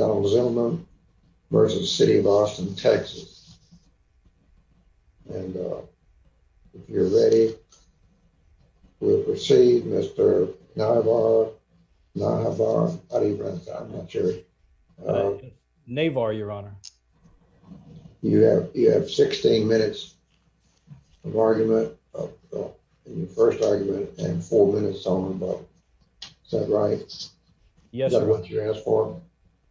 And if you're ready, we'll proceed. Mr. Navar, Navar, how do you pronounce that? I'm not sure. Navar, your honor. You have, you have 16 minutes of argument, your first argument, and four minutes on. Is that right? Yes, sir.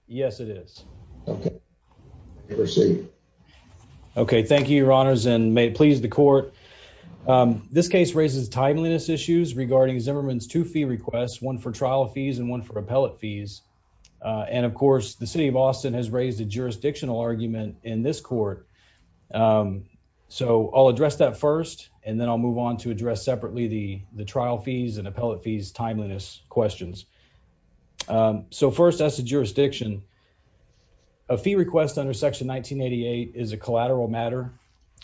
Yes, it is. Okay, proceed. Okay, thank you, your honors, and may it please the court. This case raises timeliness issues regarding Zimmerman's two fee requests, one for trial fees and one for appellate fees. And of course, the city of Austin has raised a jurisdictional argument in this court. So I'll address that first, and then I'll move on to address separately the the trial fees and appellate fees timeliness questions. So first, as a jurisdiction, a fee request under Section 1988 is a collateral matter,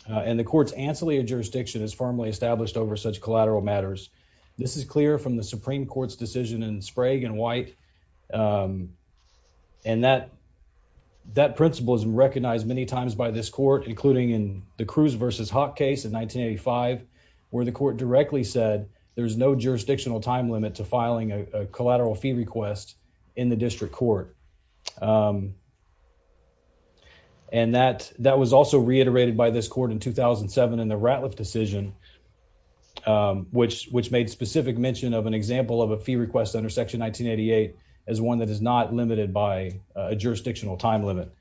and the court's ancillary jurisdiction is firmly established over such collateral matters. This is clear from the Supreme Court's decision in Sprague and White. And that that principle is recognized many times by this court, including in the Cruz versus Hawk case in 1985, where the court directly said there's no jurisdictional time limit to filing a collateral fee request in the district court. And that that was also reiterated by this court in 2007 in the Ratliff decision, which which made specific mention of an example of a fee request under Section 1988 as one that is not limited by a jurisdictional time limit.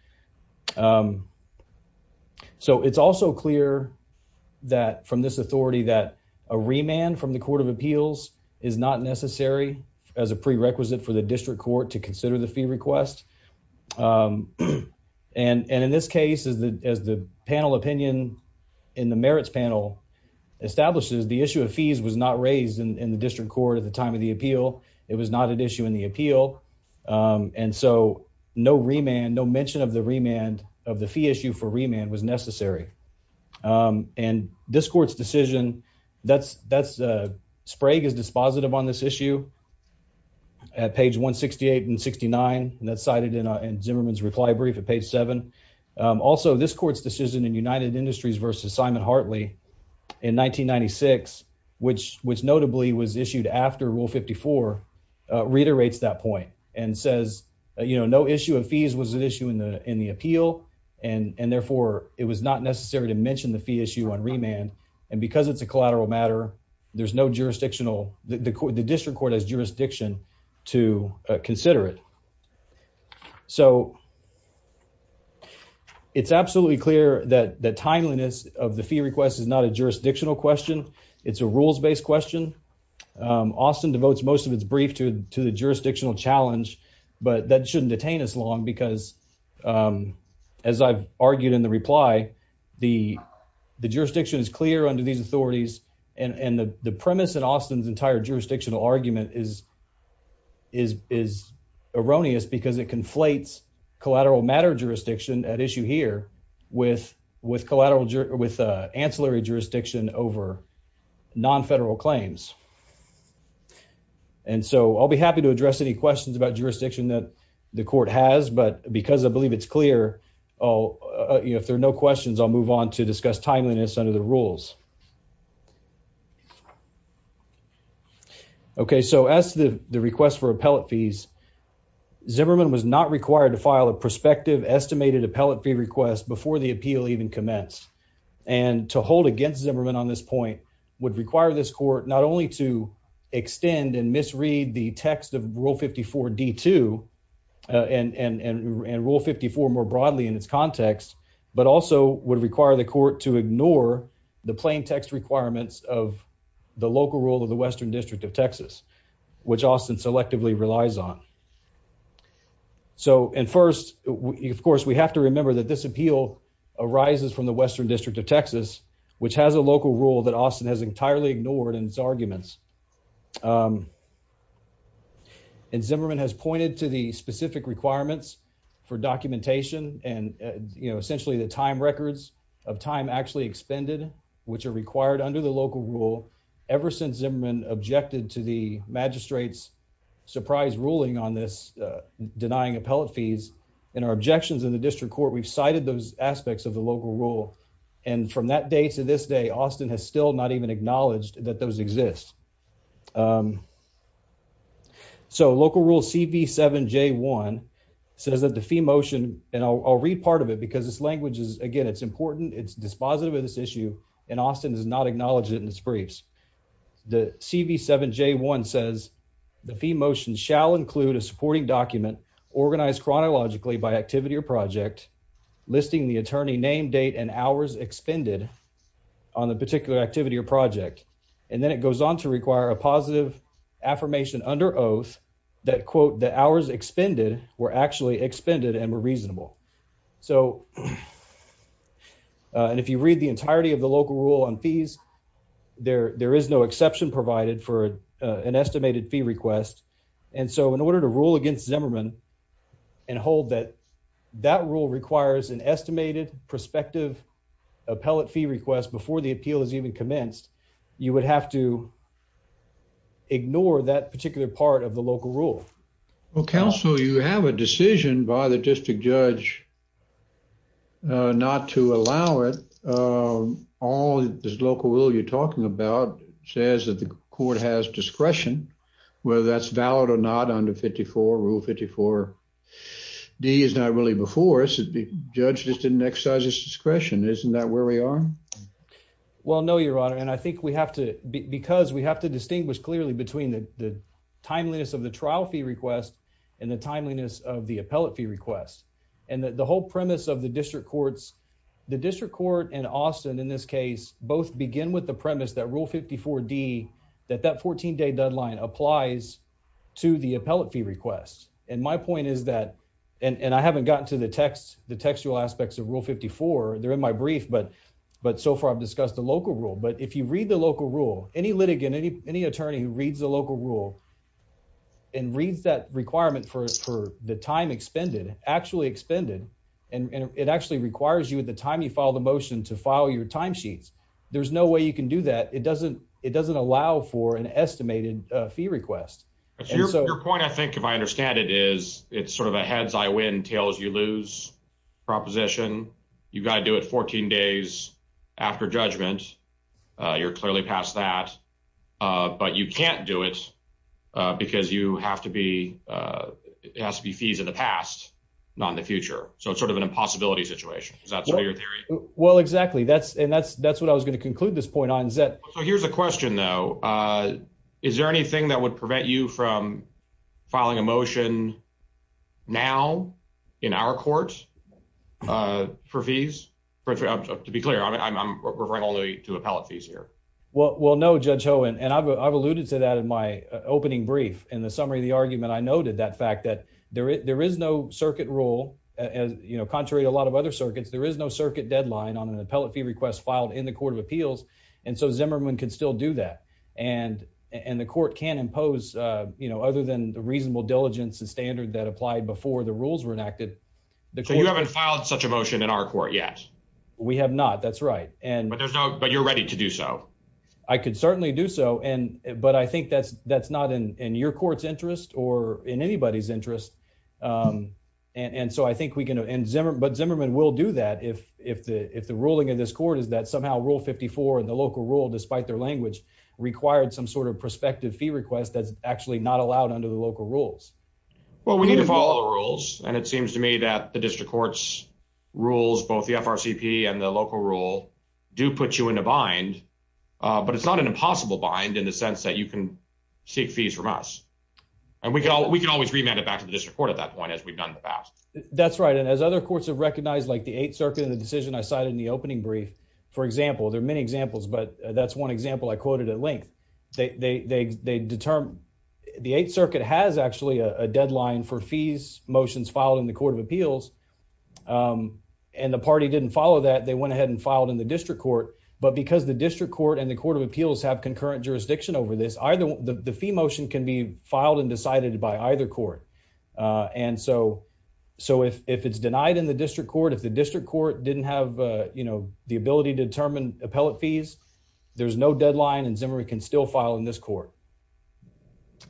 So it's also clear that from this authority that a remand from the Court of Appeals is not necessary as a prerequisite for the district court to consider the fee request. And in this case, as the as the panel opinion in the merits panel establishes, the issue of fees was not raised in the district court at the time of the appeal. It was not an issue in the appeal, and so no remand, no mention of the remand of the fee issue for remand was necessary. And this court's decision that's that's Sprague is dispositive on this issue. At page 168 and 69, and that's cited in Zimmerman's reply brief at page seven. Also, this court's decision in United Industries versus Simon Hartley in 1996, which which notably was issued after Rule 54 reiterates that point and says, you know, no issue of fees was an issue in the in the appeal and and therefore it was not necessary to mention the fee issue on remand. And because it's a collateral matter, there's no jurisdictional, the district court has jurisdiction to consider it. So it's absolutely clear that the timeliness of the fee request is not a jurisdictional question. It's a rules based question. Austin devotes most of its brief to to the jurisdictional challenge, but that shouldn't detain us long because, as I've argued in the reply, the the jurisdiction is clear under these authorities and the premise and Austin's entire jurisdictional argument is is is erroneous because it conflates collateral matter jurisdiction at issue here with with collateral with ancillary jurisdiction over non federal claims. And so I'll be happy to address any questions about jurisdiction that the court has, but because I believe it's clear if there are no questions, I'll move on to discuss timeliness under the rules. OK, so as the request for appellate fees, Zimmerman was not required to file a prospective estimated appellate fee request before the appeal even commence and to hold against Zimmerman on this point would require this court not only to extend and misread the text of Rule 54 D2 and and and Rule 54 more broadly in its context, but also would require the court to ignore the plaintiff's request. Requirements of the local rule of the Western District of Texas, which Austin selectively relies on. So and first, of course, we have to remember that this appeal arises from the Western District of Texas, which has a local rule that Austin has entirely ignored in its arguments. And Zimmerman has pointed to the specific requirements for documentation and, you know, essentially the time records of time actually expended, which are required under the local rule ever since Zimmerman objected to the magistrates surprise ruling on this denying appellate fees and our objections in the district court. We've cited those aspects of the local rule. And from that day to this day, Austin has still not even acknowledged that those exist. So local rule CV7J1 says that the fee motion and I'll read part of it because this language is again, it's important. It's dispositive of this issue and Austin does not acknowledge it in its briefs. The CV7J1 says the fee motion shall include a supporting document organized chronologically by activity or project listing the attorney name, date and hours expended on the particular activity or project. And then it goes on to require a positive affirmation under oath that quote the hours expended were actually expended and were reasonable. So, and if you read the entirety of the local rule on fees, there is no exception provided for an estimated fee request. And so in order to rule against Zimmerman and hold that that rule requires an estimated prospective appellate fee request before the appeal is even commenced, you would have to ignore that particular part of the local rule. Well, counsel, you have a decision by the district judge not to allow it. All this local rule you're talking about says that the court has discretion, whether that's valid or not under 54, rule 54D is not really before us. The judge just didn't exercise his discretion. Isn't that where we are? Well, no, your honor. And I think we have to because we have to distinguish clearly between the timeliness of the trial fee request and the timeliness of the appellate fee request. And the whole premise of the district courts, the district court and Austin in this case, both begin with the premise that rule 54D that that 14 day deadline applies to the appellate fee request. And my point is that and I haven't gotten to the text, the textual aspects of rule 54. They're in my brief, but but so far I've discussed the local rule. But if you read the local rule, any litigant, any attorney who reads the local rule and reads that requirement for the time expended, actually expended, and it actually requires you at the time you file the motion to file your time sheets, there's no way you can do that. It doesn't it doesn't allow for an estimated fee request. So your point, I think, if I understand it, is it's sort of a heads I win, tails you lose proposition. You've got to do it 14 days after judgment. You're clearly past that. But you can't do it because you have to be it has to be fees in the past, not in the future. So it's sort of an impossibility situation. Well, exactly. That's and that's that's what I was going to conclude this point on. So here's a question, though. Is there anything that would prevent you from filing a motion now in our courts for fees? To be clear, I'm referring only to appellate fees here. Well, no, Judge Owen, and I've alluded to that in my opening brief. In the summary of the argument, I noted that fact that there is no circuit rule. As you know, contrary to a lot of other circuits, there is no circuit deadline on an appellate fee request filed in the Court of Appeals. And so Zimmerman can still do that. And and the court can impose, you know, other than the reasonable diligence and standard that applied before the rules were enacted. So you haven't filed such a motion in our court yet? We have not. That's right. And but there's no but you're ready to do so. I could certainly do so. And but I think that's that's not in your court's interest or in anybody's interest. And so I think we can and Zimmerman will do that if if the if the ruling of this court is that somehow Rule 54 and the local rule, despite their language, required some sort of prospective fee request that's actually not allowed under the local rules. Well, we need to follow the rules. And it seems to me that the district courts rules, both the FRCP and the local rule, do put you in a bind. But it's not an impossible bind in the sense that you can seek fees from us. And we can we can always remand it back to the district court at that point, as we've done in the past. That's right. And as other courts have recognized, like the Eighth Circuit and the decision I cited in the opening brief, for example, there are many examples, but that's one example I quoted at length. They determine the Eighth Circuit has actually a deadline for fees motions filed in the Court of Appeals. And the party didn't follow that they went ahead and filed in the district court. But because the district court and the Court of Appeals have concurrent jurisdiction over this either the fee motion can be filed and decided by either court. And so, so if it's denied in the district court, if the district court didn't have, you know, the ability to determine appellate fees, there's no deadline and Zimmerman can still file in this court.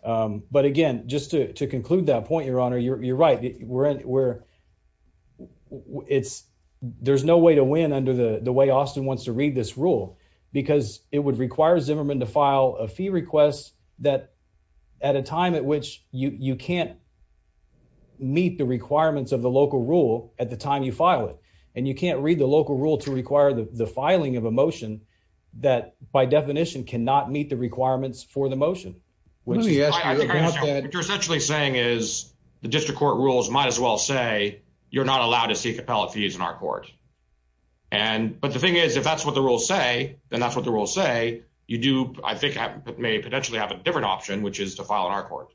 But again, just to conclude that point, Your Honor, you're right. We're, it's, there's no way to win under the way Austin wants to read this rule, because it would require Zimmerman to file a fee request that at a time at which you can't meet the requirements of the local rule at the time you file it. And you can't read the local rule to require the filing of a motion that by definition cannot meet the requirements for the motion, which you're essentially saying is the district court rules might as well say you're not allowed to seek appellate fees in our court. And but the thing is, if that's what the rules say, then that's what the rules say you do. I think it may potentially have a different option, which is to file in our court.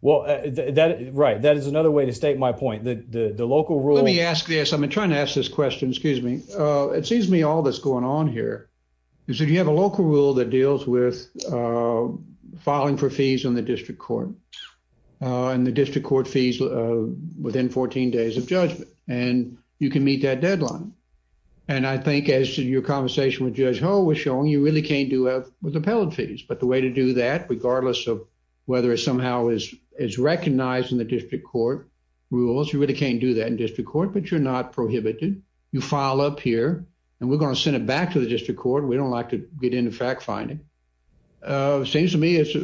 Well, that right. That is another way to state my point that the local rule. Let me ask this. I'm trying to ask this question. Excuse me. It seems to me all that's going on here is if you have a local rule that deals with filing for fees on the district court and the district court fees within 14 days of judgment, and you can meet that deadline. And I think as your conversation with Judge Ho was showing, you really can't do that with appellate fees. But the way to do that, regardless of whether it somehow is recognized in the district court rules, you really can't do that in district court, but you're not prohibited. You file up here and we're going to send it back to the district court. We don't like to get into fact finding. Seems to me it's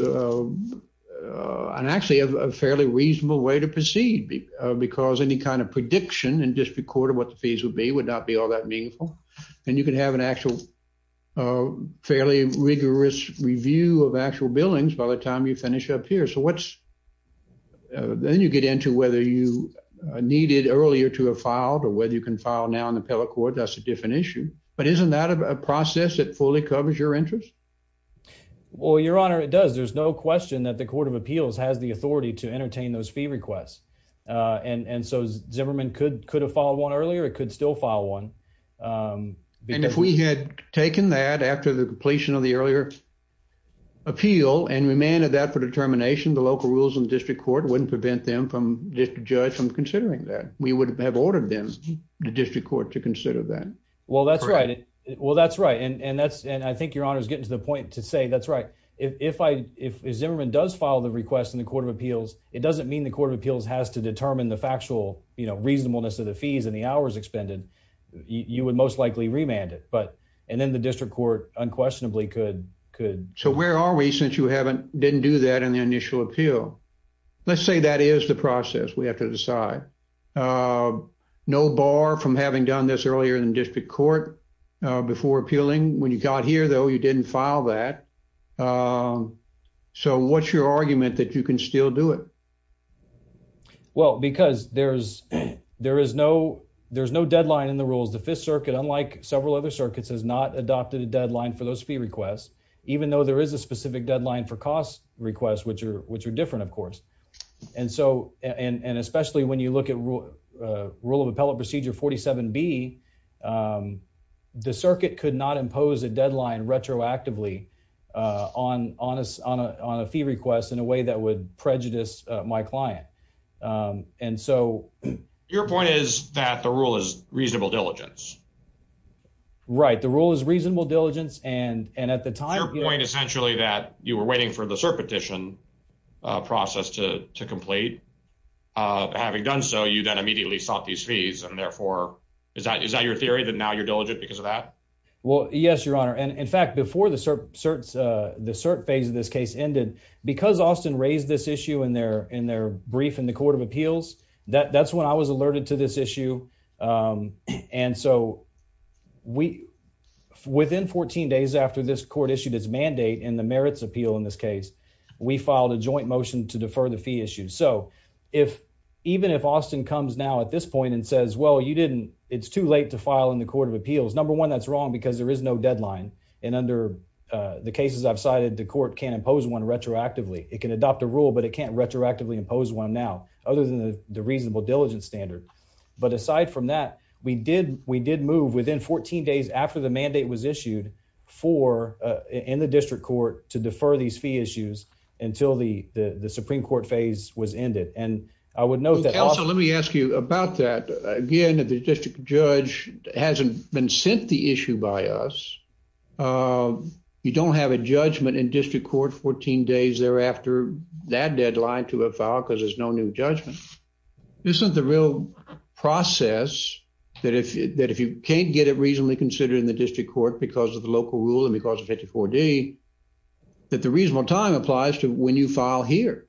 actually a fairly reasonable way to proceed because any kind of prediction and just recorded what the fees would be would not be all that meaningful. And you can have an actual fairly rigorous review of actual billings by the time you finish up here. So what's then you get into whether you needed earlier to have filed or whether you can file now in the appellate court. That's a different issue. But isn't that a process that fully covers your interest? Well, Your Honor, it does. There's no question that the Court of Appeals has the authority to entertain those fee requests. And so Zimmerman could could have followed one earlier. It could still file one. And if we had taken that after the completion of the earlier appeal and remanded that for determination, the local rules and district court wouldn't prevent them from district judge from considering that we would have ordered them the district court to consider that. Well, that's right. Well, that's right. And that's and I think Your Honor is getting to the point to say that's right. If I if Zimmerman does follow the request in the Court of Appeals, it doesn't mean the Court of Appeals has to determine the factual, you know, reasonableness of the fees and the hours expended, you would most likely remand it. But and then the district court unquestionably could could. So where are we since you haven't didn't do that in the initial appeal? Let's say that is the process we have to decide. No bar from having done this earlier in the district court before appealing. When you got here, though, you didn't file that. So what's your argument that you can still do it? Well, because there's there is no there's no deadline in the rules. The Fifth Circuit, unlike several other circuits, has not adopted a deadline for those fee requests, even though there is a specific deadline for cost requests, which are which are different, of course. And so and especially when you look at rule of appellate procedure 47 B, the circuit could not impose a deadline retroactively on on us on a on a fee request in a way that would prejudice my client. And so your point is that the rule is reasonable diligence. Right. The rule is reasonable diligence. And and at the time, your point essentially that you were waiting for the petition process to to complete. Having done so, you then immediately sought these fees. And therefore, is that is that your theory that now you're diligent because of that? Well, yes, your honor. And in fact, before the cert certs, the cert phase of this case ended because Austin raised this issue in their in their brief in the Court of Appeals, that that's when I was alerted to this issue. And so we within 14 days after this court issued its mandate in the merits appeal in this case, we filed a joint motion to defer the fee issue. So if even if Austin comes now at this point and says, well, you didn't it's too late to file in the Court of Appeals. Number one, that's wrong because there is no deadline. And under the cases I've cited, the court can impose one retroactively. It can adopt a rule, but it can't retroactively impose one now other than the reasonable diligence standard. But aside from that, we did we did move within 14 days after the mandate was issued for in the district court to defer these fee issues until the the Supreme Court phase was ended. And I would know that. Let me ask you about that again. If the district judge hasn't been sent the issue by us, you don't have a judgment in district court 14 days thereafter that deadline to a file because there's no new judgment. This isn't the real process that if that if you can't get it reasonably considered in the district court because of the local rule and because of 54 day that the reasonable time applies to when you file here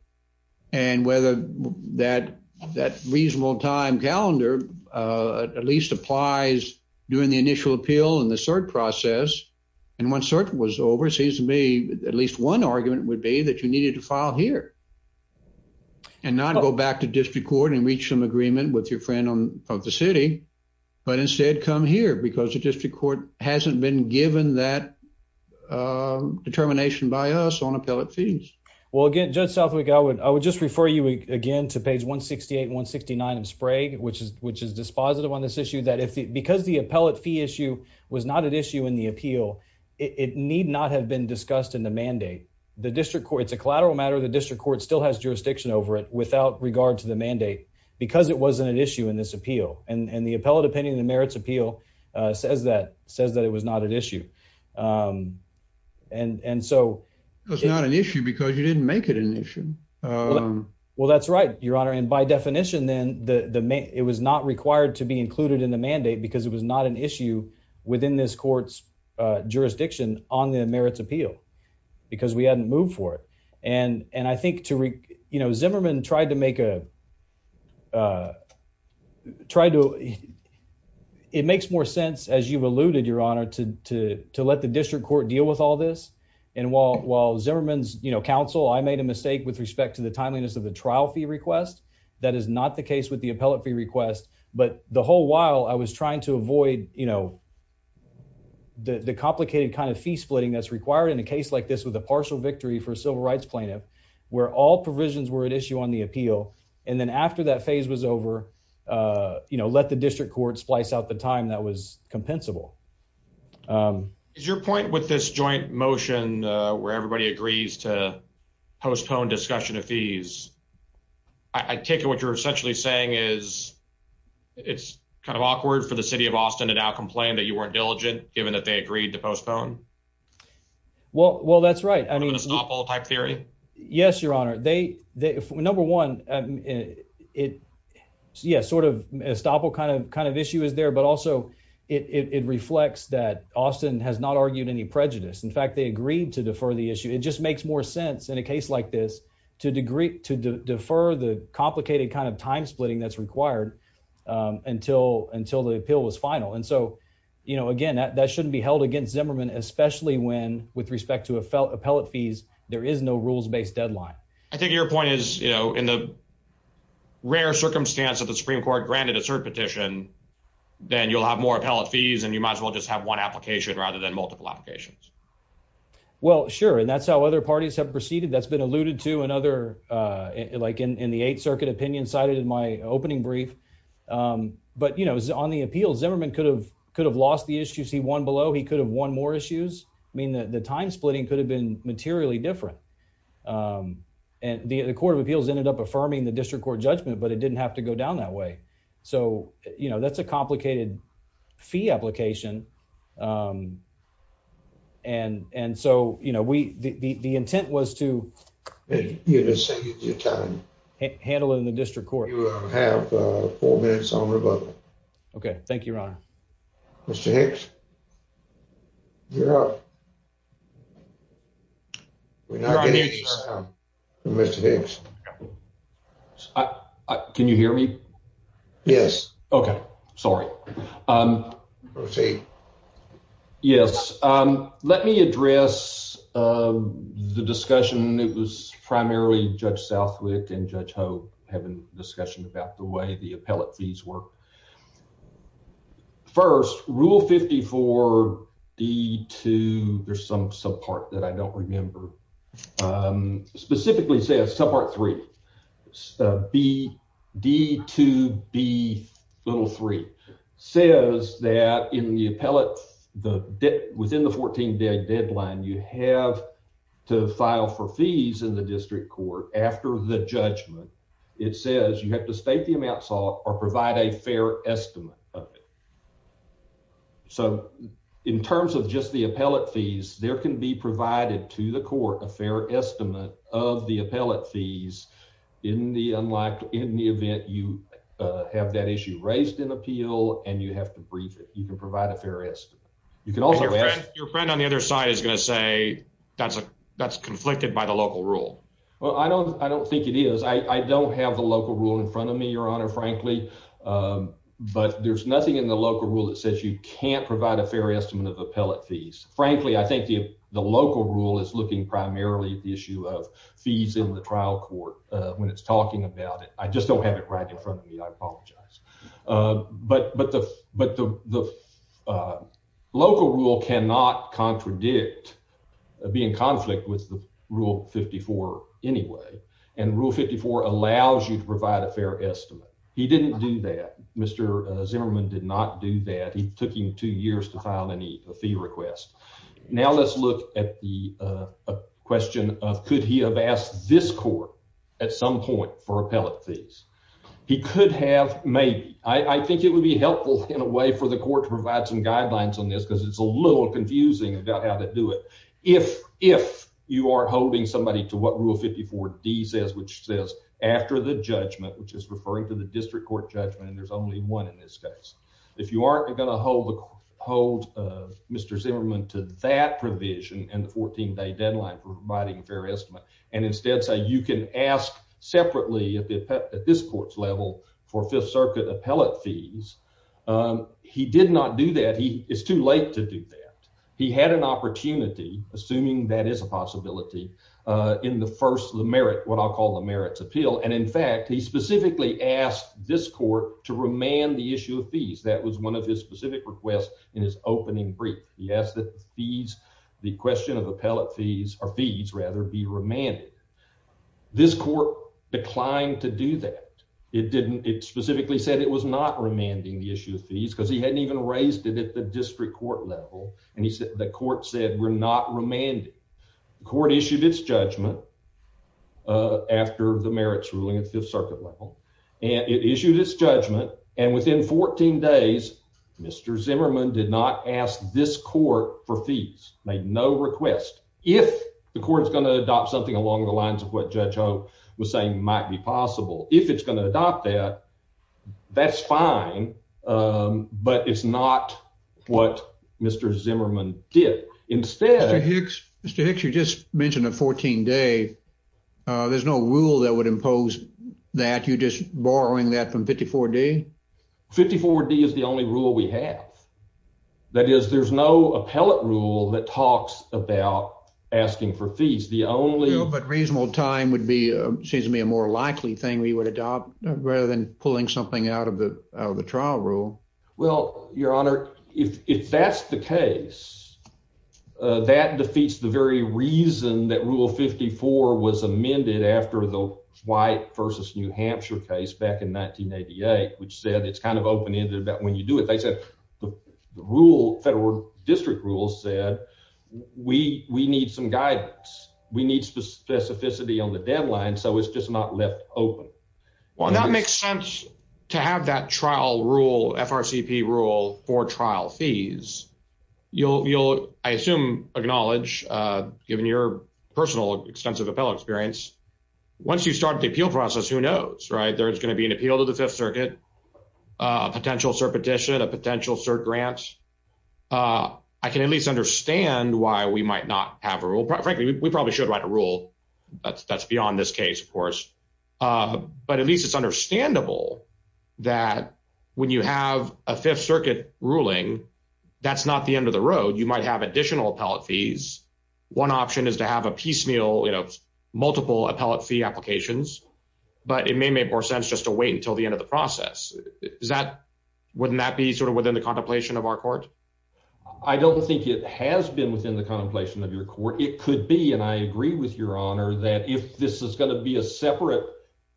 and whether that that reasonable time calendar at least applies during the initial appeal and the cert process. And when cert was over, it seems to me at least one argument would be that you needed to file here and not go back to district court and reach some agreement with your friend on the city, but instead come here because the district court hasn't been given that determination by us on appellate fees. Well, again, Judge Southwick, I would I would just refer you again to page 168 169 of Sprague, which is which is dispositive on this issue that if because the appellate fee issue was not an issue in the appeal, it need not have been discussed in the mandate. The district courts a collateral matter the district court still has jurisdiction over it without regard to the mandate, because it wasn't an issue in this appeal and the appellate opinion the merits appeal says that says that it was not an issue. And and so it's not an issue because you didn't make it an issue. Well, that's right, Your Honor. And by definition, then the it was not required to be included in the mandate because it was not an issue within this court's jurisdiction on the merits appeal, because we hadn't moved for it. And, and I think to, you know, Zimmerman tried to make a try to. It makes more sense as you've alluded Your Honor to to let the district court deal with all this. And while while Zimmerman's, you know, counsel I made a mistake with respect to the timeliness of the trial fee request. That is not the case with the appellate fee request, but the whole while I was trying to avoid, you know, the complicated kind of fee splitting that's required in a case like this with a partial victory for civil rights plaintiff, where all provisions were at issue on the appeal. And then after that phase was over, you know, let the district court splice out the time that was compensable. Is your point with this joint motion, where everybody agrees to postpone discussion of fees. I take it what you're essentially saying is, it's kind of awkward for the city of Austin to now complain that you weren't diligent, given that they agreed to postpone. Well, well that's right I mean it's not all type theory. Yes, Your Honor, they, they, number one, it. Yeah, sort of a stop all kind of kind of issue is there but also it reflects that Austin has not argued any prejudice in fact they agreed to defer the issue it just makes more sense in a case like this to degree to defer the complicated kind of time when, with respect to a felt appellate fees, there is no rules based deadline. I think your point is, you know, in the rare circumstance of the Supreme Court granted assert petition, then you'll have more appellate fees and you might as well just have one application rather than multiple applications. Well sure and that's how other parties have proceeded that's been alluded to another like in the Eighth Circuit opinion cited in my opening brief. But you know, on the appeals Zimmerman could have could have lost the issues he won below he could have won more issues mean that the time splitting could have been materially different. And the Court of Appeals ended up affirming the district court judgment but it didn't have to go down that way. So, you know, that's a complicated fee application. And, and so, you know, we, the intent was to handle it in the district court. Okay, thank you. Can you hear me. Yes. Okay, sorry. Yes. Let me address the discussion, it was primarily Judge Southwick and Judge Ho having discussion about the way the appellate fees work. First rule 54. The two, there's some sub part that I don't remember. Specifically says sub part three. BD2B3 says that in the appellate, within the 14 day deadline you have to file for fees in the district court after the judgment. It says you have to state the amount sought or provide a fair estimate of it. So, in terms of just the appellate fees, there can be provided to the court a fair estimate of the appellate fees in the unlike in the event you have that issue raised in appeal, and you have to brief it, you can provide a fair estimate. You can also read your friend on the other side is going to say, that's a, that's conflicted by the local rule. Well, I don't, I don't think it is I don't have the local rule in front of me, Your Honor, frankly. But there's nothing in the local rule that says you can't provide a fair estimate of appellate fees, frankly, I think the, the local rule is looking primarily at the issue of fees in the trial court, when it's talking about it, I just don't have it right in front of me, I apologize. But, but the, but the local rule cannot contradict being conflict with the rule 54. Anyway, and rule 54 allows you to provide a fair estimate. He didn't do that, Mr. Zimmerman did not do that he took him two years to file any fee request. Now let's look at the question of could he have asked this court at some point for appellate fees. He could have made, I think it would be helpful in a way for the court to provide some guidelines on this because it's a little confusing about how to do it. If, if you are holding somebody to what rule 54 D says which says after the judgment which is referring to the district court judgment and there's only one in this case, if you aren't going to hold the hold of Mr Zimmerman to that provision and the 14 day deadline for providing fair estimate, and instead say you can ask separately at this court's level for Fifth Circuit appellate fees. He did not do that he is too late to do that. He had an opportunity, assuming that is a possibility in the first the merit what I'll call the merits appeal and in fact he specifically asked this court to remand the issue of fees that was one of his specific request in his opening brief, he asked that these, the question of appellate fees or fees rather be remanded. This court declined to do that. It didn't, it specifically said it was not remanding the issue of fees because he hadn't even raised it at the district court level, and he said the court said we're not remanded court issued its judgment. After the merits ruling at the Fifth Circuit level, and it issued his judgment, and within 14 days, Mr Zimmerman did not ask this court for fees made no request. If the court is going to adopt something along the lines of what Joe was saying might be possible, if it's going to adopt that. That's fine. But it's not what Mr Zimmerman did. Instead, Mr Hicks, you just mentioned a 14 day. There's no rule that would impose that you just borrowing that from 54 day 54 d is the only rule we have. That is, there's no appellate rule that talks about asking for fees. The only but reasonable time would be seems to be a more likely thing we would adopt rather than pulling something out of the trial rule. Well, Your Honor, if that's the case, that defeats the very reason that rule 54 was amended after the white versus New Hampshire case back in 1988 which said it's kind of open ended about when you do it. They said the rule federal district rules said we we need some guidance. We need specificity on the deadline. So it's just not left open. Well, that makes sense to have that trial rule FRCP rule for trial fees, you'll, you'll, I assume, acknowledge, given your personal extensive appellate experience. Once you start the appeal process, who knows right there's going to be an appeal to the Fifth Circuit. Potential repetition of potential cert grants. I can at least understand why we might not have a rule, frankly, we probably should write a rule that's that's beyond this case, of course, but at least it's understandable that when you have a Fifth Circuit ruling. That's not the end of the road, you might have additional appellate fees. One option is to have a piecemeal you know multiple appellate fee applications, but it may make more sense just to wait until the end of the process is that wouldn't that be sort of within the contemplation of our court. I don't think it has been within the contemplation of your court, it could be and I agree with your honor that if this is going to be a separate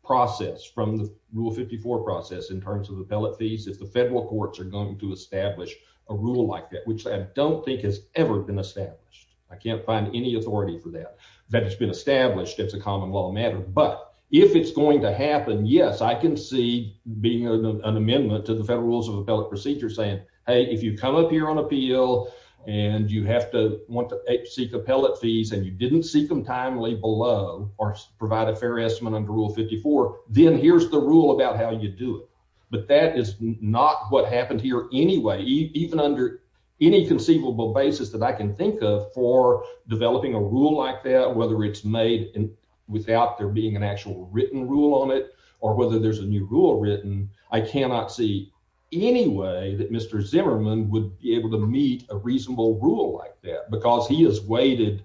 process from the rule 54 process in terms of appellate fees if the federal courts are going to establish a rule like that, which I don't think has ever been established. I can't find any authority for that that has been established as a common law matter, but if it's going to happen. Yes, I can see being an amendment to the Federal Rules of Appellate Procedure saying, hey, if you come up here on appeal. And you have to want to seek appellate fees and you didn't seek them timely below or provide a fair estimate under Rule 54 then here's the rule about how you do it. But that is not what happened here. Anyway, even under any conceivable basis that I can think of for developing a rule like that, whether it's made in without there being an actual written rule on it, or whether there's a new rule written. I cannot see any way that Mr Zimmerman would be able to meet a reasonable rule like that because he has waited.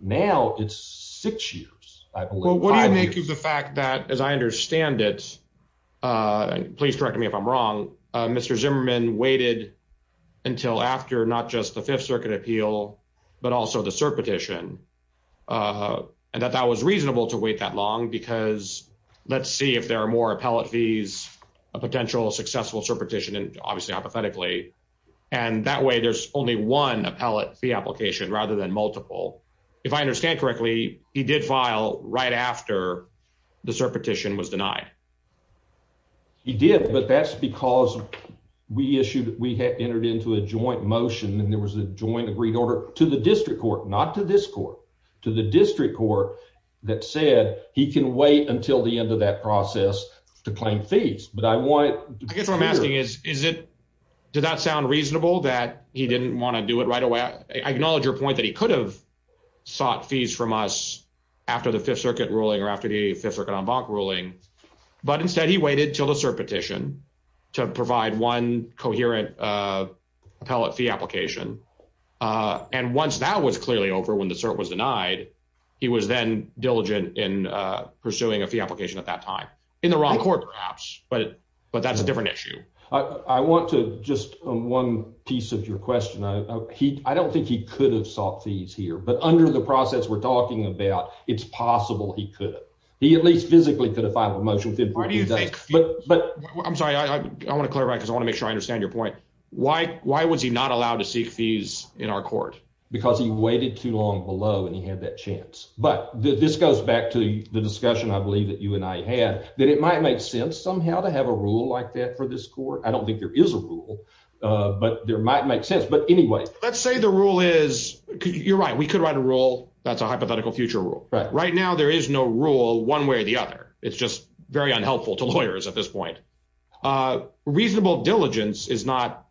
Now it's six years, I believe. What do you make of the fact that, as I understand it, please correct me if I'm wrong, Mr Zimmerman waited until after not just the Fifth Circuit appeal, but also the cert petition, and that that was reasonable to wait that long because let's see if there are more appellate fees, a potential successful And that way there's only one appellate fee application rather than multiple. If I understand correctly, he did file right after the cert petition was denied. He did, but that's because we issued, we had entered into a joint motion and there was a joint agreed order to the district court, not to this court, to the district court that said he can wait until the end of that process to claim fees, but I want I guess what I'm asking is, is it, does that sound reasonable that he didn't want to do it right away? I acknowledge your point that he could have sought fees from us after the Fifth Circuit ruling or after the Fifth Circuit en banc ruling, but instead he waited till the cert petition to provide one coherent appellate fee application. And once that was clearly over when the cert was denied, he was then diligent in pursuing a fee application at that time, in the wrong court perhaps, but, but that's a different issue. I want to just one piece of your question. I don't think he could have sought fees here, but under the process we're talking about, it's possible he could, he at least physically could have filed a motion. I'm sorry, I want to clarify, because I want to make sure I understand your point. Why, why was he not allowed to seek fees in our court? Because he waited too long below and he had that chance. But this goes back to the discussion I believe that you and I had, that it might make sense somehow to have a rule like that for this court. I don't think there is a rule, but there might make sense. But anyway. Let's say the rule is, you're right, we could write a rule that's a hypothetical future rule. Right now there is no rule one way or the other. It's just very unhelpful to lawyers at this point. Reasonable diligence is not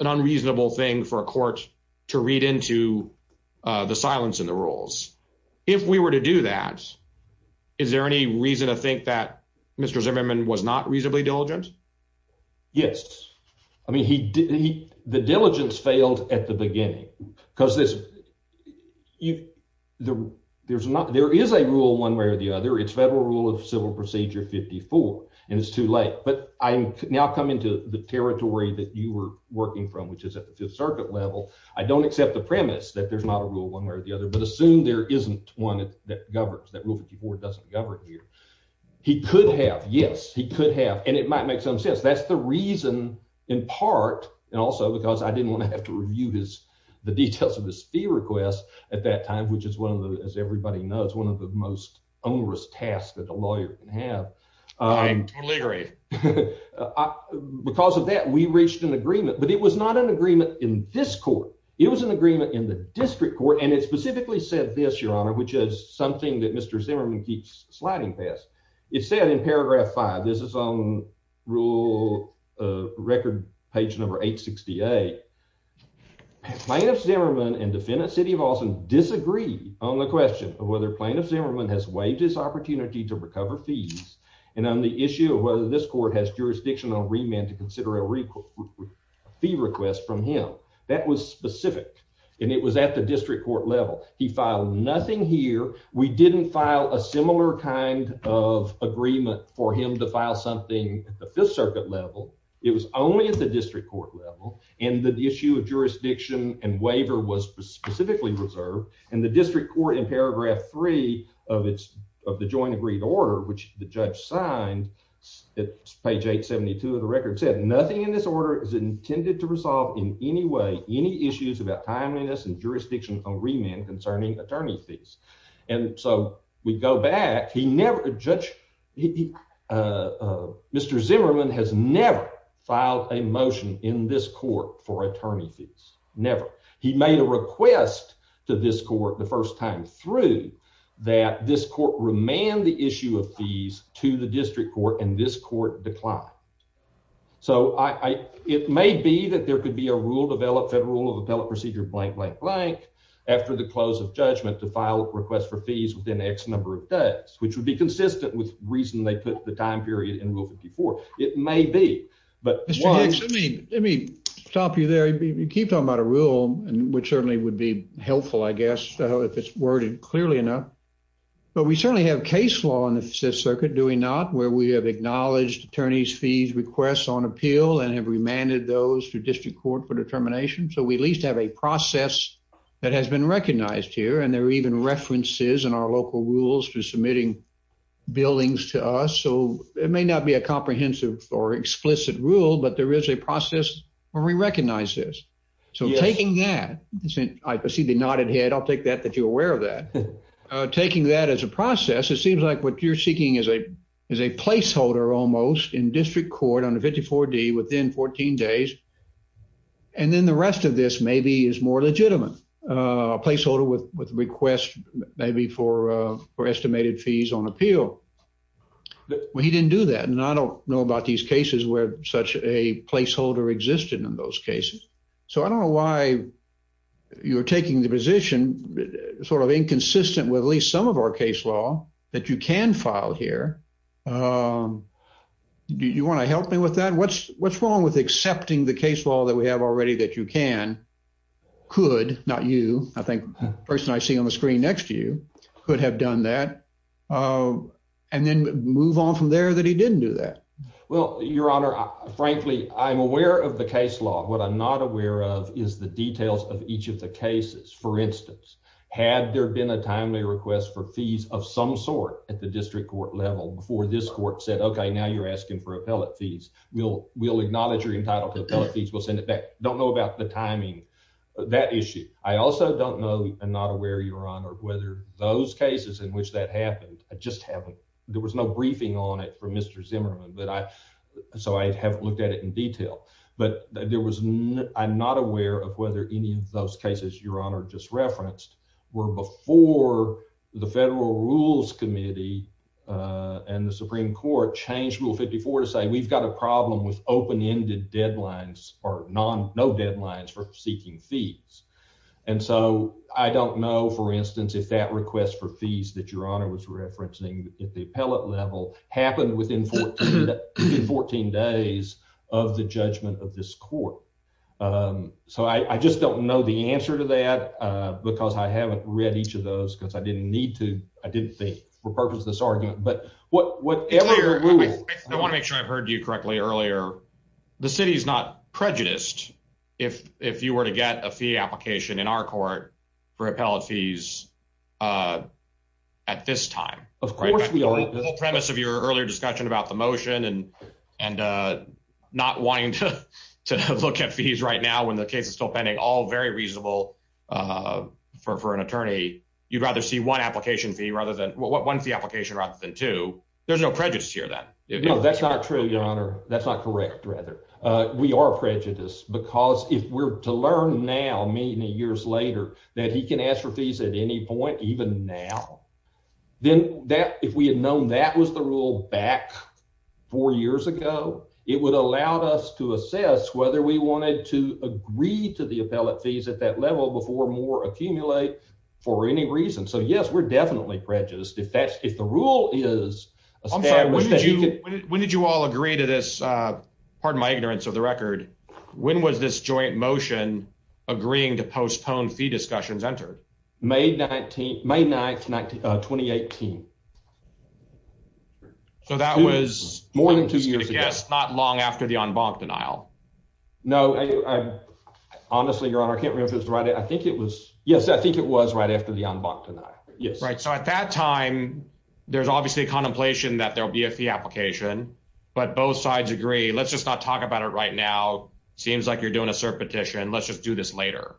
an unreasonable thing for a court to read into the silence in the rules. If we were to do that, is there any reason to think that Mr. Zimmerman was not reasonably diligent? Yes. I mean he, the diligence failed at the beginning, because there is a rule one way or the other. It's Federal Rule of Civil Procedure 54, and it's too late. But I'm now coming to the territory that you were working from, which is at the Fifth Circuit level. I don't accept the premise that there's not a rule one way or the other, but assume there isn't one that governs, that Rule 54 doesn't govern here. He could have, yes, he could have, and it might make some sense. That's the reason, in part, and also because I didn't want to have to review the details of his fee request at that time, which is one of the, as everybody knows, one of the most onerous tasks that a lawyer can have. I totally agree. Because of that, we reached an agreement, but it was not an agreement in this court. It was an agreement in the district court, and it specifically said this, Your Honor, which is something that Mr. Zimmerman keeps sliding past. It said in Paragraph 5, this is on Rule Record page number 868, Plaintiff Zimmerman and Defendant City of Austin disagree on the question of whether Plaintiff Zimmerman has waived his opportunity to recover fees and on the issue of whether this court has jurisdiction on remand to consider a fee request from him. That was specific, and it was at the district court level. He filed nothing here. We didn't file a similar kind of agreement for him to file something at the Fifth Circuit level. It was only at the district court level, and the issue of jurisdiction and waiver was specifically reserved. And the district court in Paragraph 3 of the joint agreed order, which the judge signed at page 872 of the record, said nothing in this order is intended to resolve in any way any issues about timeliness and jurisdiction on remand concerning attorney fees. And so we go back. Mr. Zimmerman has never filed a motion in this court for attorney fees, never. He made a request to this court the first time through that this court remand the issue of fees to the district court, and this court declined. So it may be that there could be a rule developed federal of appellate procedure blank, blank, blank after the close of judgment to file a request for fees within X number of days, which would be consistent with reason they put the time period in Rule 54. It may be, but let me stop you there. You keep talking about a rule, which certainly would be helpful, I guess, if it's worded clearly enough. But we certainly have case law in the Fifth Circuit, do we not, where we have acknowledged attorneys fees requests on appeal and have remanded those to district court for determination. So we at least have a process that has been recognized here. And there are even references in our local rules for submitting billings to us. So it may not be a comprehensive or explicit rule, but there is a process where we recognize this. So taking that, I see the nodded head. I'll take that if you're aware of that. Taking that as a process, it seems like what you're seeking is a placeholder almost in district court under 54D within 14 days. And then the rest of this maybe is more legitimate. A placeholder with request maybe for estimated fees on appeal. Well, he didn't do that. And I don't know about these cases where such a placeholder existed in those cases. So I don't know why you're taking the position sort of inconsistent with at least some of our case law that you can file here. Do you want to help me with that? What's what's wrong with accepting the case law that we have already that you can could not you. I think the person I see on the screen next to you could have done that and then move on from there that he didn't do that. Well, Your Honor, frankly, I'm aware of the case law. What I'm not aware of is the details of each of the cases. For instance, had there been a timely request for fees of some sort at the district court level before this court said, OK, now you're asking for appellate fees. We'll we'll acknowledge you're entitled to appellate fees. We'll send it back. Don't know about the timing of that issue. I also don't know. I'm not aware, Your Honor, whether those cases in which that happened. I just haven't. There was no briefing on it from Mr. Zimmerman. So I haven't looked at it in detail, but there was I'm not aware of whether any of those cases, Your Honor, just referenced were before the federal rules committee and the Supreme Court changed Rule 54 to say we've got a problem with open ended deadlines or non no deadlines for seeking fees. And so I don't know, for instance, if that request for fees that Your Honor was referencing at the appellate level happened within 14 days of the judgment of this court. So I just don't know the answer to that because I haven't read each of those because I didn't need to. I didn't think for purpose of this argument. But what whatever I want to make sure I've heard you correctly earlier. The city is not prejudiced if if you were to get a fee application in our court for appellate fees at this time, of course, we are premise of your earlier discussion about the motion and and not wanting to look at fees right now when the case is still pending all very reasonable for an attorney. You'd rather see one application fee rather than one fee application rather than two. There's no prejudice here that that's not true. Your Honor, that's not correct. Rather, we are prejudiced because if we're to learn now, many years later that he can ask for fees at any point, even now, then that if we had known that was the rule back four years ago, it would allow us to assess whether we wanted to agree to the appellate fees at that level before more accumulate. That's not true for any reason. So, yes, we're definitely prejudiced. If that's if the rule is, I'm sorry, when did you, when did you all agree to this? Pardon my ignorance of the record. When was this joint motion agreeing to postpone fee discussions entered May 19th, May 9th, 2018. So, that was more than two years ago. Yes. Not long after the denial. No, I honestly, your honor. I can't remember if it's right. I think it was. Yes, I think it was right after the denial. Yes. Right. So, at that time, there's obviously a contemplation that there'll be a fee application, but both sides agree. Let's just not talk about it right now. Seems like you're doing a petition. Let's just do this later.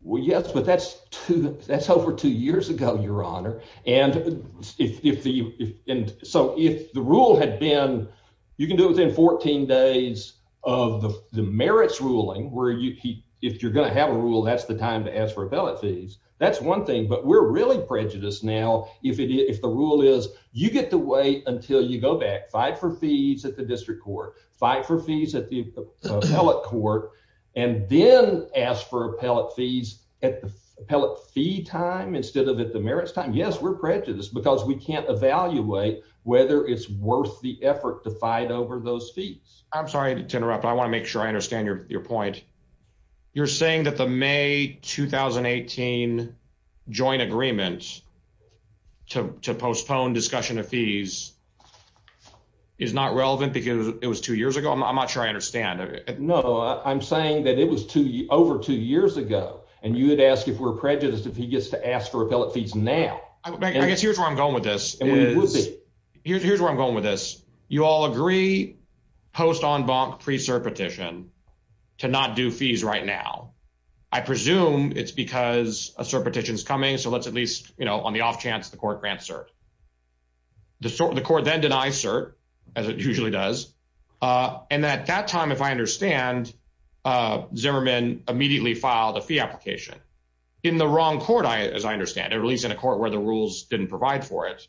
Well, yes, but that's two. That's over two years ago, your honor. And if you and so if the rule had been you can do within 14 days of the merits ruling where you if you're going to have a rule, that's the time to ask for appellate fees. Yes, we're prejudiced because we can't evaluate whether it's worth the effort to fight over those fees. I'm sorry to interrupt. I want to make sure I understand your point. You're saying that the May 2018 joint agreement to postpone discussion of fees is not relevant because it was two years ago. I'm not sure I understand. No, I'm saying that it was two over two years ago, and you would ask if we're prejudiced if he gets to ask for appellate fees. Now, I guess here's where I'm going with this. Here's where I'm going with this. You all agree post en banc pre-cert petition to not do fees right now. I presume it's because a cert petition is coming. So let's at least, you know, on the off chance the court grants cert. The court then denies cert, as it usually does. And at that time, if I understand, Zimmerman immediately filed a fee application in the wrong court, as I understand it, at least in a court where the rules didn't provide for it.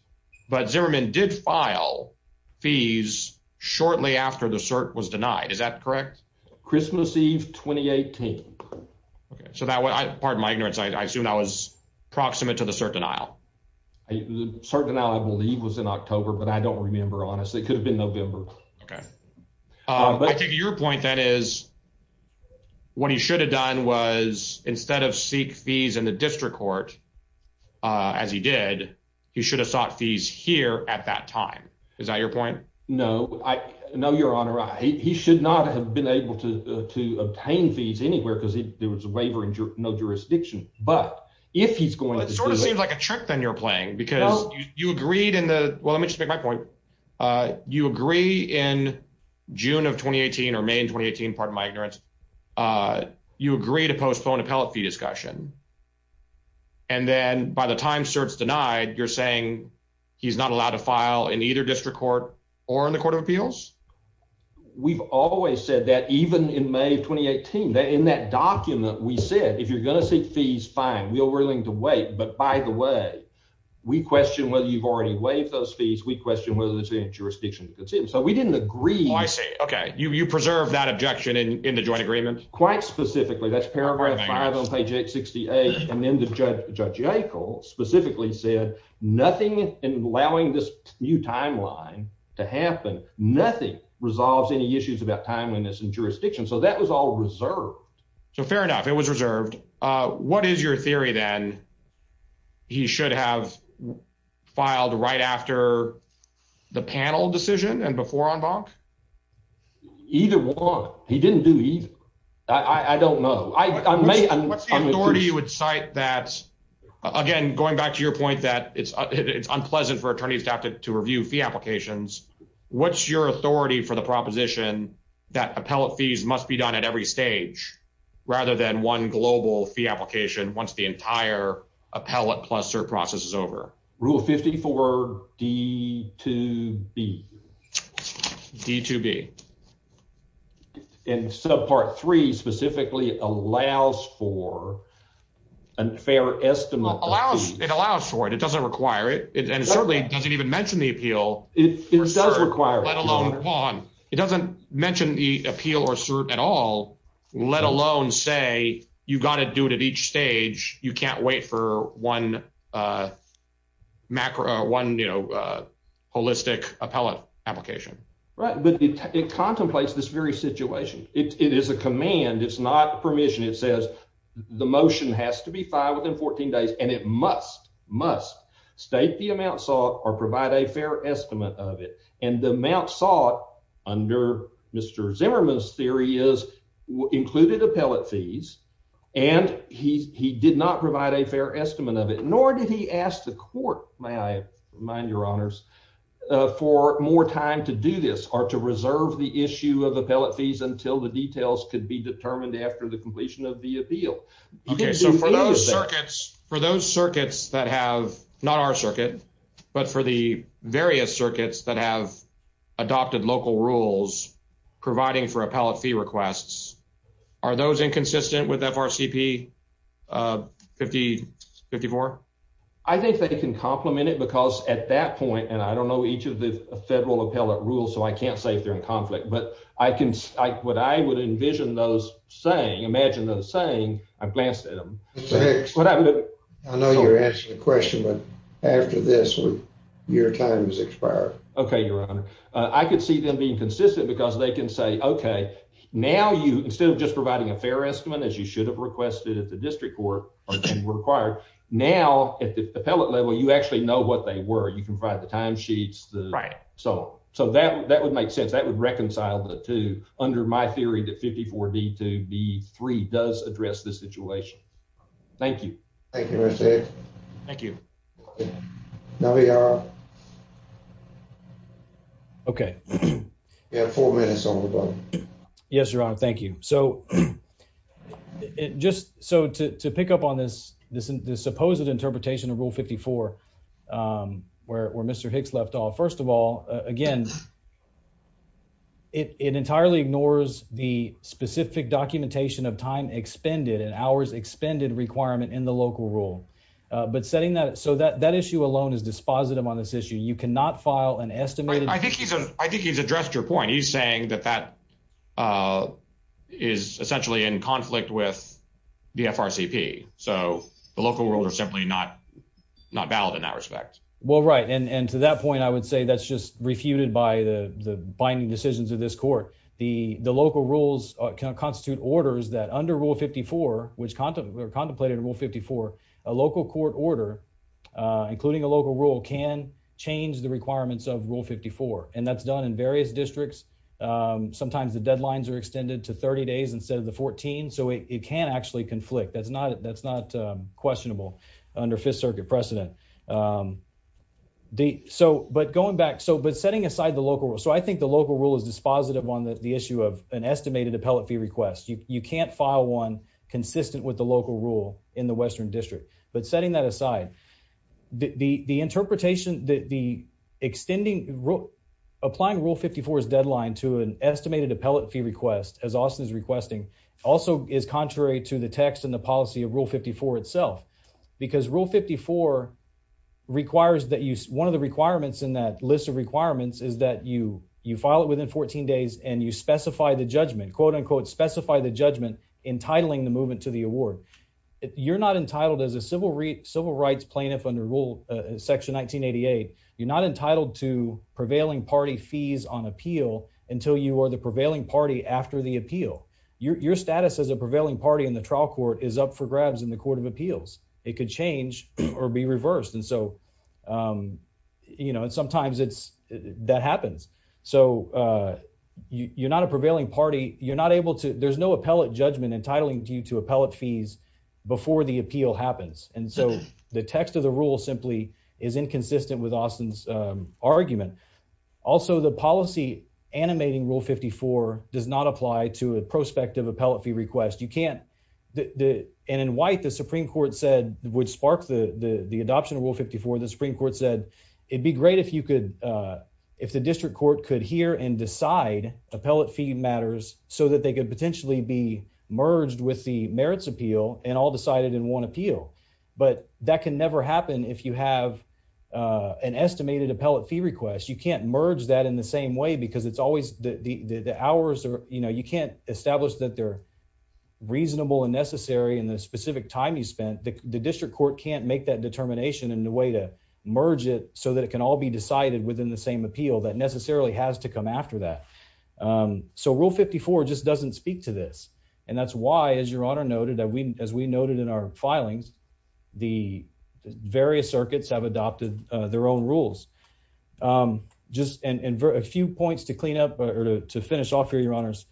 But Zimmerman did file fees shortly after the cert was denied. Is that correct? Christmas Eve 2018. Okay, so that was, pardon my ignorance, I assume that was proximate to the cert denial. The cert denial, I believe, was in October, but I don't remember, honestly. It could have been November. Okay. I think your point, then, is what he should have done was instead of seek fees in the district court, as he did, he should have sought fees here at that time. Is that your point? No. No, Your Honor. He should not have been able to obtain fees anywhere because there was a waiver and no jurisdiction. But if he's going to... It sort of seems like a trick then you're playing, because you agreed in the... Well, let me just make my point. You agree in June of 2018, or May of 2018, pardon my ignorance, you agree to postpone appellate fee discussion. And then by the time cert's denied, you're saying he's not allowed to file in either district court or in the Court of Appeals? We've always said that, even in May of 2018. In that document, we said, if you're going to seek fees, fine. We're willing to wait. But by the way, we question whether you've already waived those fees. We question whether there's any jurisdiction to concede. So we didn't agree... Oh, I see. Okay. You preserve that objection in the joint agreement? In the joint agreement, quite specifically, that's paragraph five on page 868. And then Judge Yackel specifically said, nothing in allowing this new timeline to happen, nothing resolves any issues about timeliness and jurisdiction. So that was all reserved. So fair enough. It was reserved. What is your theory then? He should have filed right after the panel decision and before en banc? Either one. He didn't do either. I don't know. What's the authority you would cite that, again, going back to your point that it's unpleasant for attorneys to have to review fee applications, what's your authority for the proposition that appellate fees must be done at every stage, rather than one global fee application once the entire appellate plus cert process is over? Rule 54 D2B. D2B. And subpart three specifically allows for a fair estimate. It allows for it. It doesn't require it. And certainly doesn't even mention the appeal. It does require it. It doesn't mention the appeal or cert at all, let alone say you've got to do it at each stage. You can't wait for one holistic appellate application. Right. But it contemplates this very situation. It is a command. It's not permission. It says the motion has to be filed within 14 days and it must, must state the amount sought or provide a fair estimate of it. And the amount sought under Mr. Zimmerman's theory is included appellate fees. And he did not provide a fair estimate of it, nor did he ask the court, may I remind your honors, for more time to do this or to reserve the issue of appellate fees until the details could be determined after the completion of the appeal. So for those circuits, for those circuits that have not our circuit, but for the various circuits that have adopted local rules providing for appellate fee requests, are those inconsistent with FRCP 54? I think they can compliment it because at that point, and I don't know each of the federal appellate rules, so I can't say if they're in conflict, but I can, I would, I would envision those saying, imagine those saying I've glanced at them. I know you're asking a question, but after this, your time is expired. Okay. Your honor. I could see them being consistent because they can say, okay, now you, instead of just providing a fair estimate, as you should have requested at the district court required. Now at the appellate level, you actually know what they were. You can provide the timesheets. So, so that, that would make sense. That would reconcile the two under my theory that 54 D to B three does address this situation. Thank you. Thank you. Thank you. Now we are. Okay. Yeah, four minutes on the phone. Yes, your honor. Thank you. So, just so to pick up on this, this, this supposed interpretation of rule 54 where Mr Hicks left off. First of all, again, it entirely ignores the specific documentation of time expended and hours expended requirement in the local rule. But setting that so that that issue alone is dispositive on this issue you cannot file an estimate. I think he's, I think he's addressed your point he's saying that that is essentially in conflict with the FRC P. So, the local rules are simply not not valid in that respect. Well right and and to that point I would say that's just refuted by the binding decisions of this court, the, the local rules constitute orders that under rule 54, which content were contemplated rule 54. A local court order, including a local rule can change the requirements of rule 54, and that's done in various districts. Sometimes the deadlines are extended to 30 days instead of the 14 so it can actually conflict that's not that's not questionable under Fifth Circuit precedent. The so but going back so but setting aside the local so I think the local rule is dispositive on the issue of an estimated appellate fee request you can't file one consistent with the local rule in the Western District, but setting that aside. The interpretation that the extending rule applying rule 54 is deadline to an estimated appellate fee request as Austin is requesting also is contrary to the text and the policy of rule 54 itself, because rule 54 requires that you one of the requirements in that list of requirements is that you, you file it within 14 days and you specify the judgment quote unquote specify the judgment entitling the movement to the award. You're not entitled as a civil civil rights plaintiff under rule section 1988, you're not entitled to prevailing party fees on appeal until you are the prevailing party after the appeal your status as a prevailing party in the trial court is up for grabs in the Court of Appeals, it could change or be reversed and so you know and sometimes it's that happens. So, you're not a prevailing party, you're not able to there's no appellate judgment entitling you to appellate fees. Before the appeal happens, and so the text of the rule simply is inconsistent with Austin's argument. Also the policy animating rule 54 does not apply to a prospective appellate fee request you can't the end in white the Supreme Court said would spark the the adoption of rule 54 the Supreme Court said it'd be great if you could. If the district court could hear and decide appellate fee matters, so that they could potentially be merged with the merits appeal and all decided in one appeal, but that can never happen if you have an estimated appellate fee request you can't merge that in the same way to merge it so that it can all be decided within the same appeal that necessarily has to come after that. So rule 54 just doesn't speak to this. And that's why as your honor noted that we, as we noted in our filings, the various circuits have adopted their own rules. Just a few points to clean up or to finish off your your honors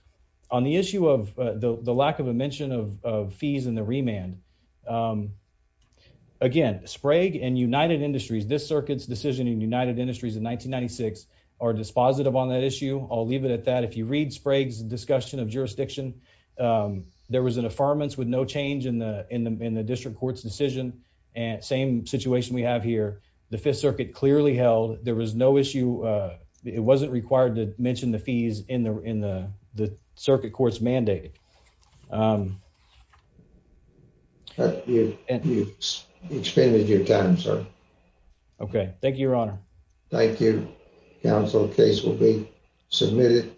on the issue of the lack of a mention of fees and the remand. Again, Sprague and United Industries this circuits decision in United Industries in 1996 are dispositive on that issue, I'll leave it at that if you read Sprague's discussion of jurisdiction. There was an affirmance with no change in the in the in the district courts decision and same situation we have here, the Fifth Circuit clearly held, there was no issue. It wasn't required to mention the fees in the in the circuit courts mandate. You've expended your time, sir. Okay, thank you, your honor. Thank you, counsel. The case will be submitted.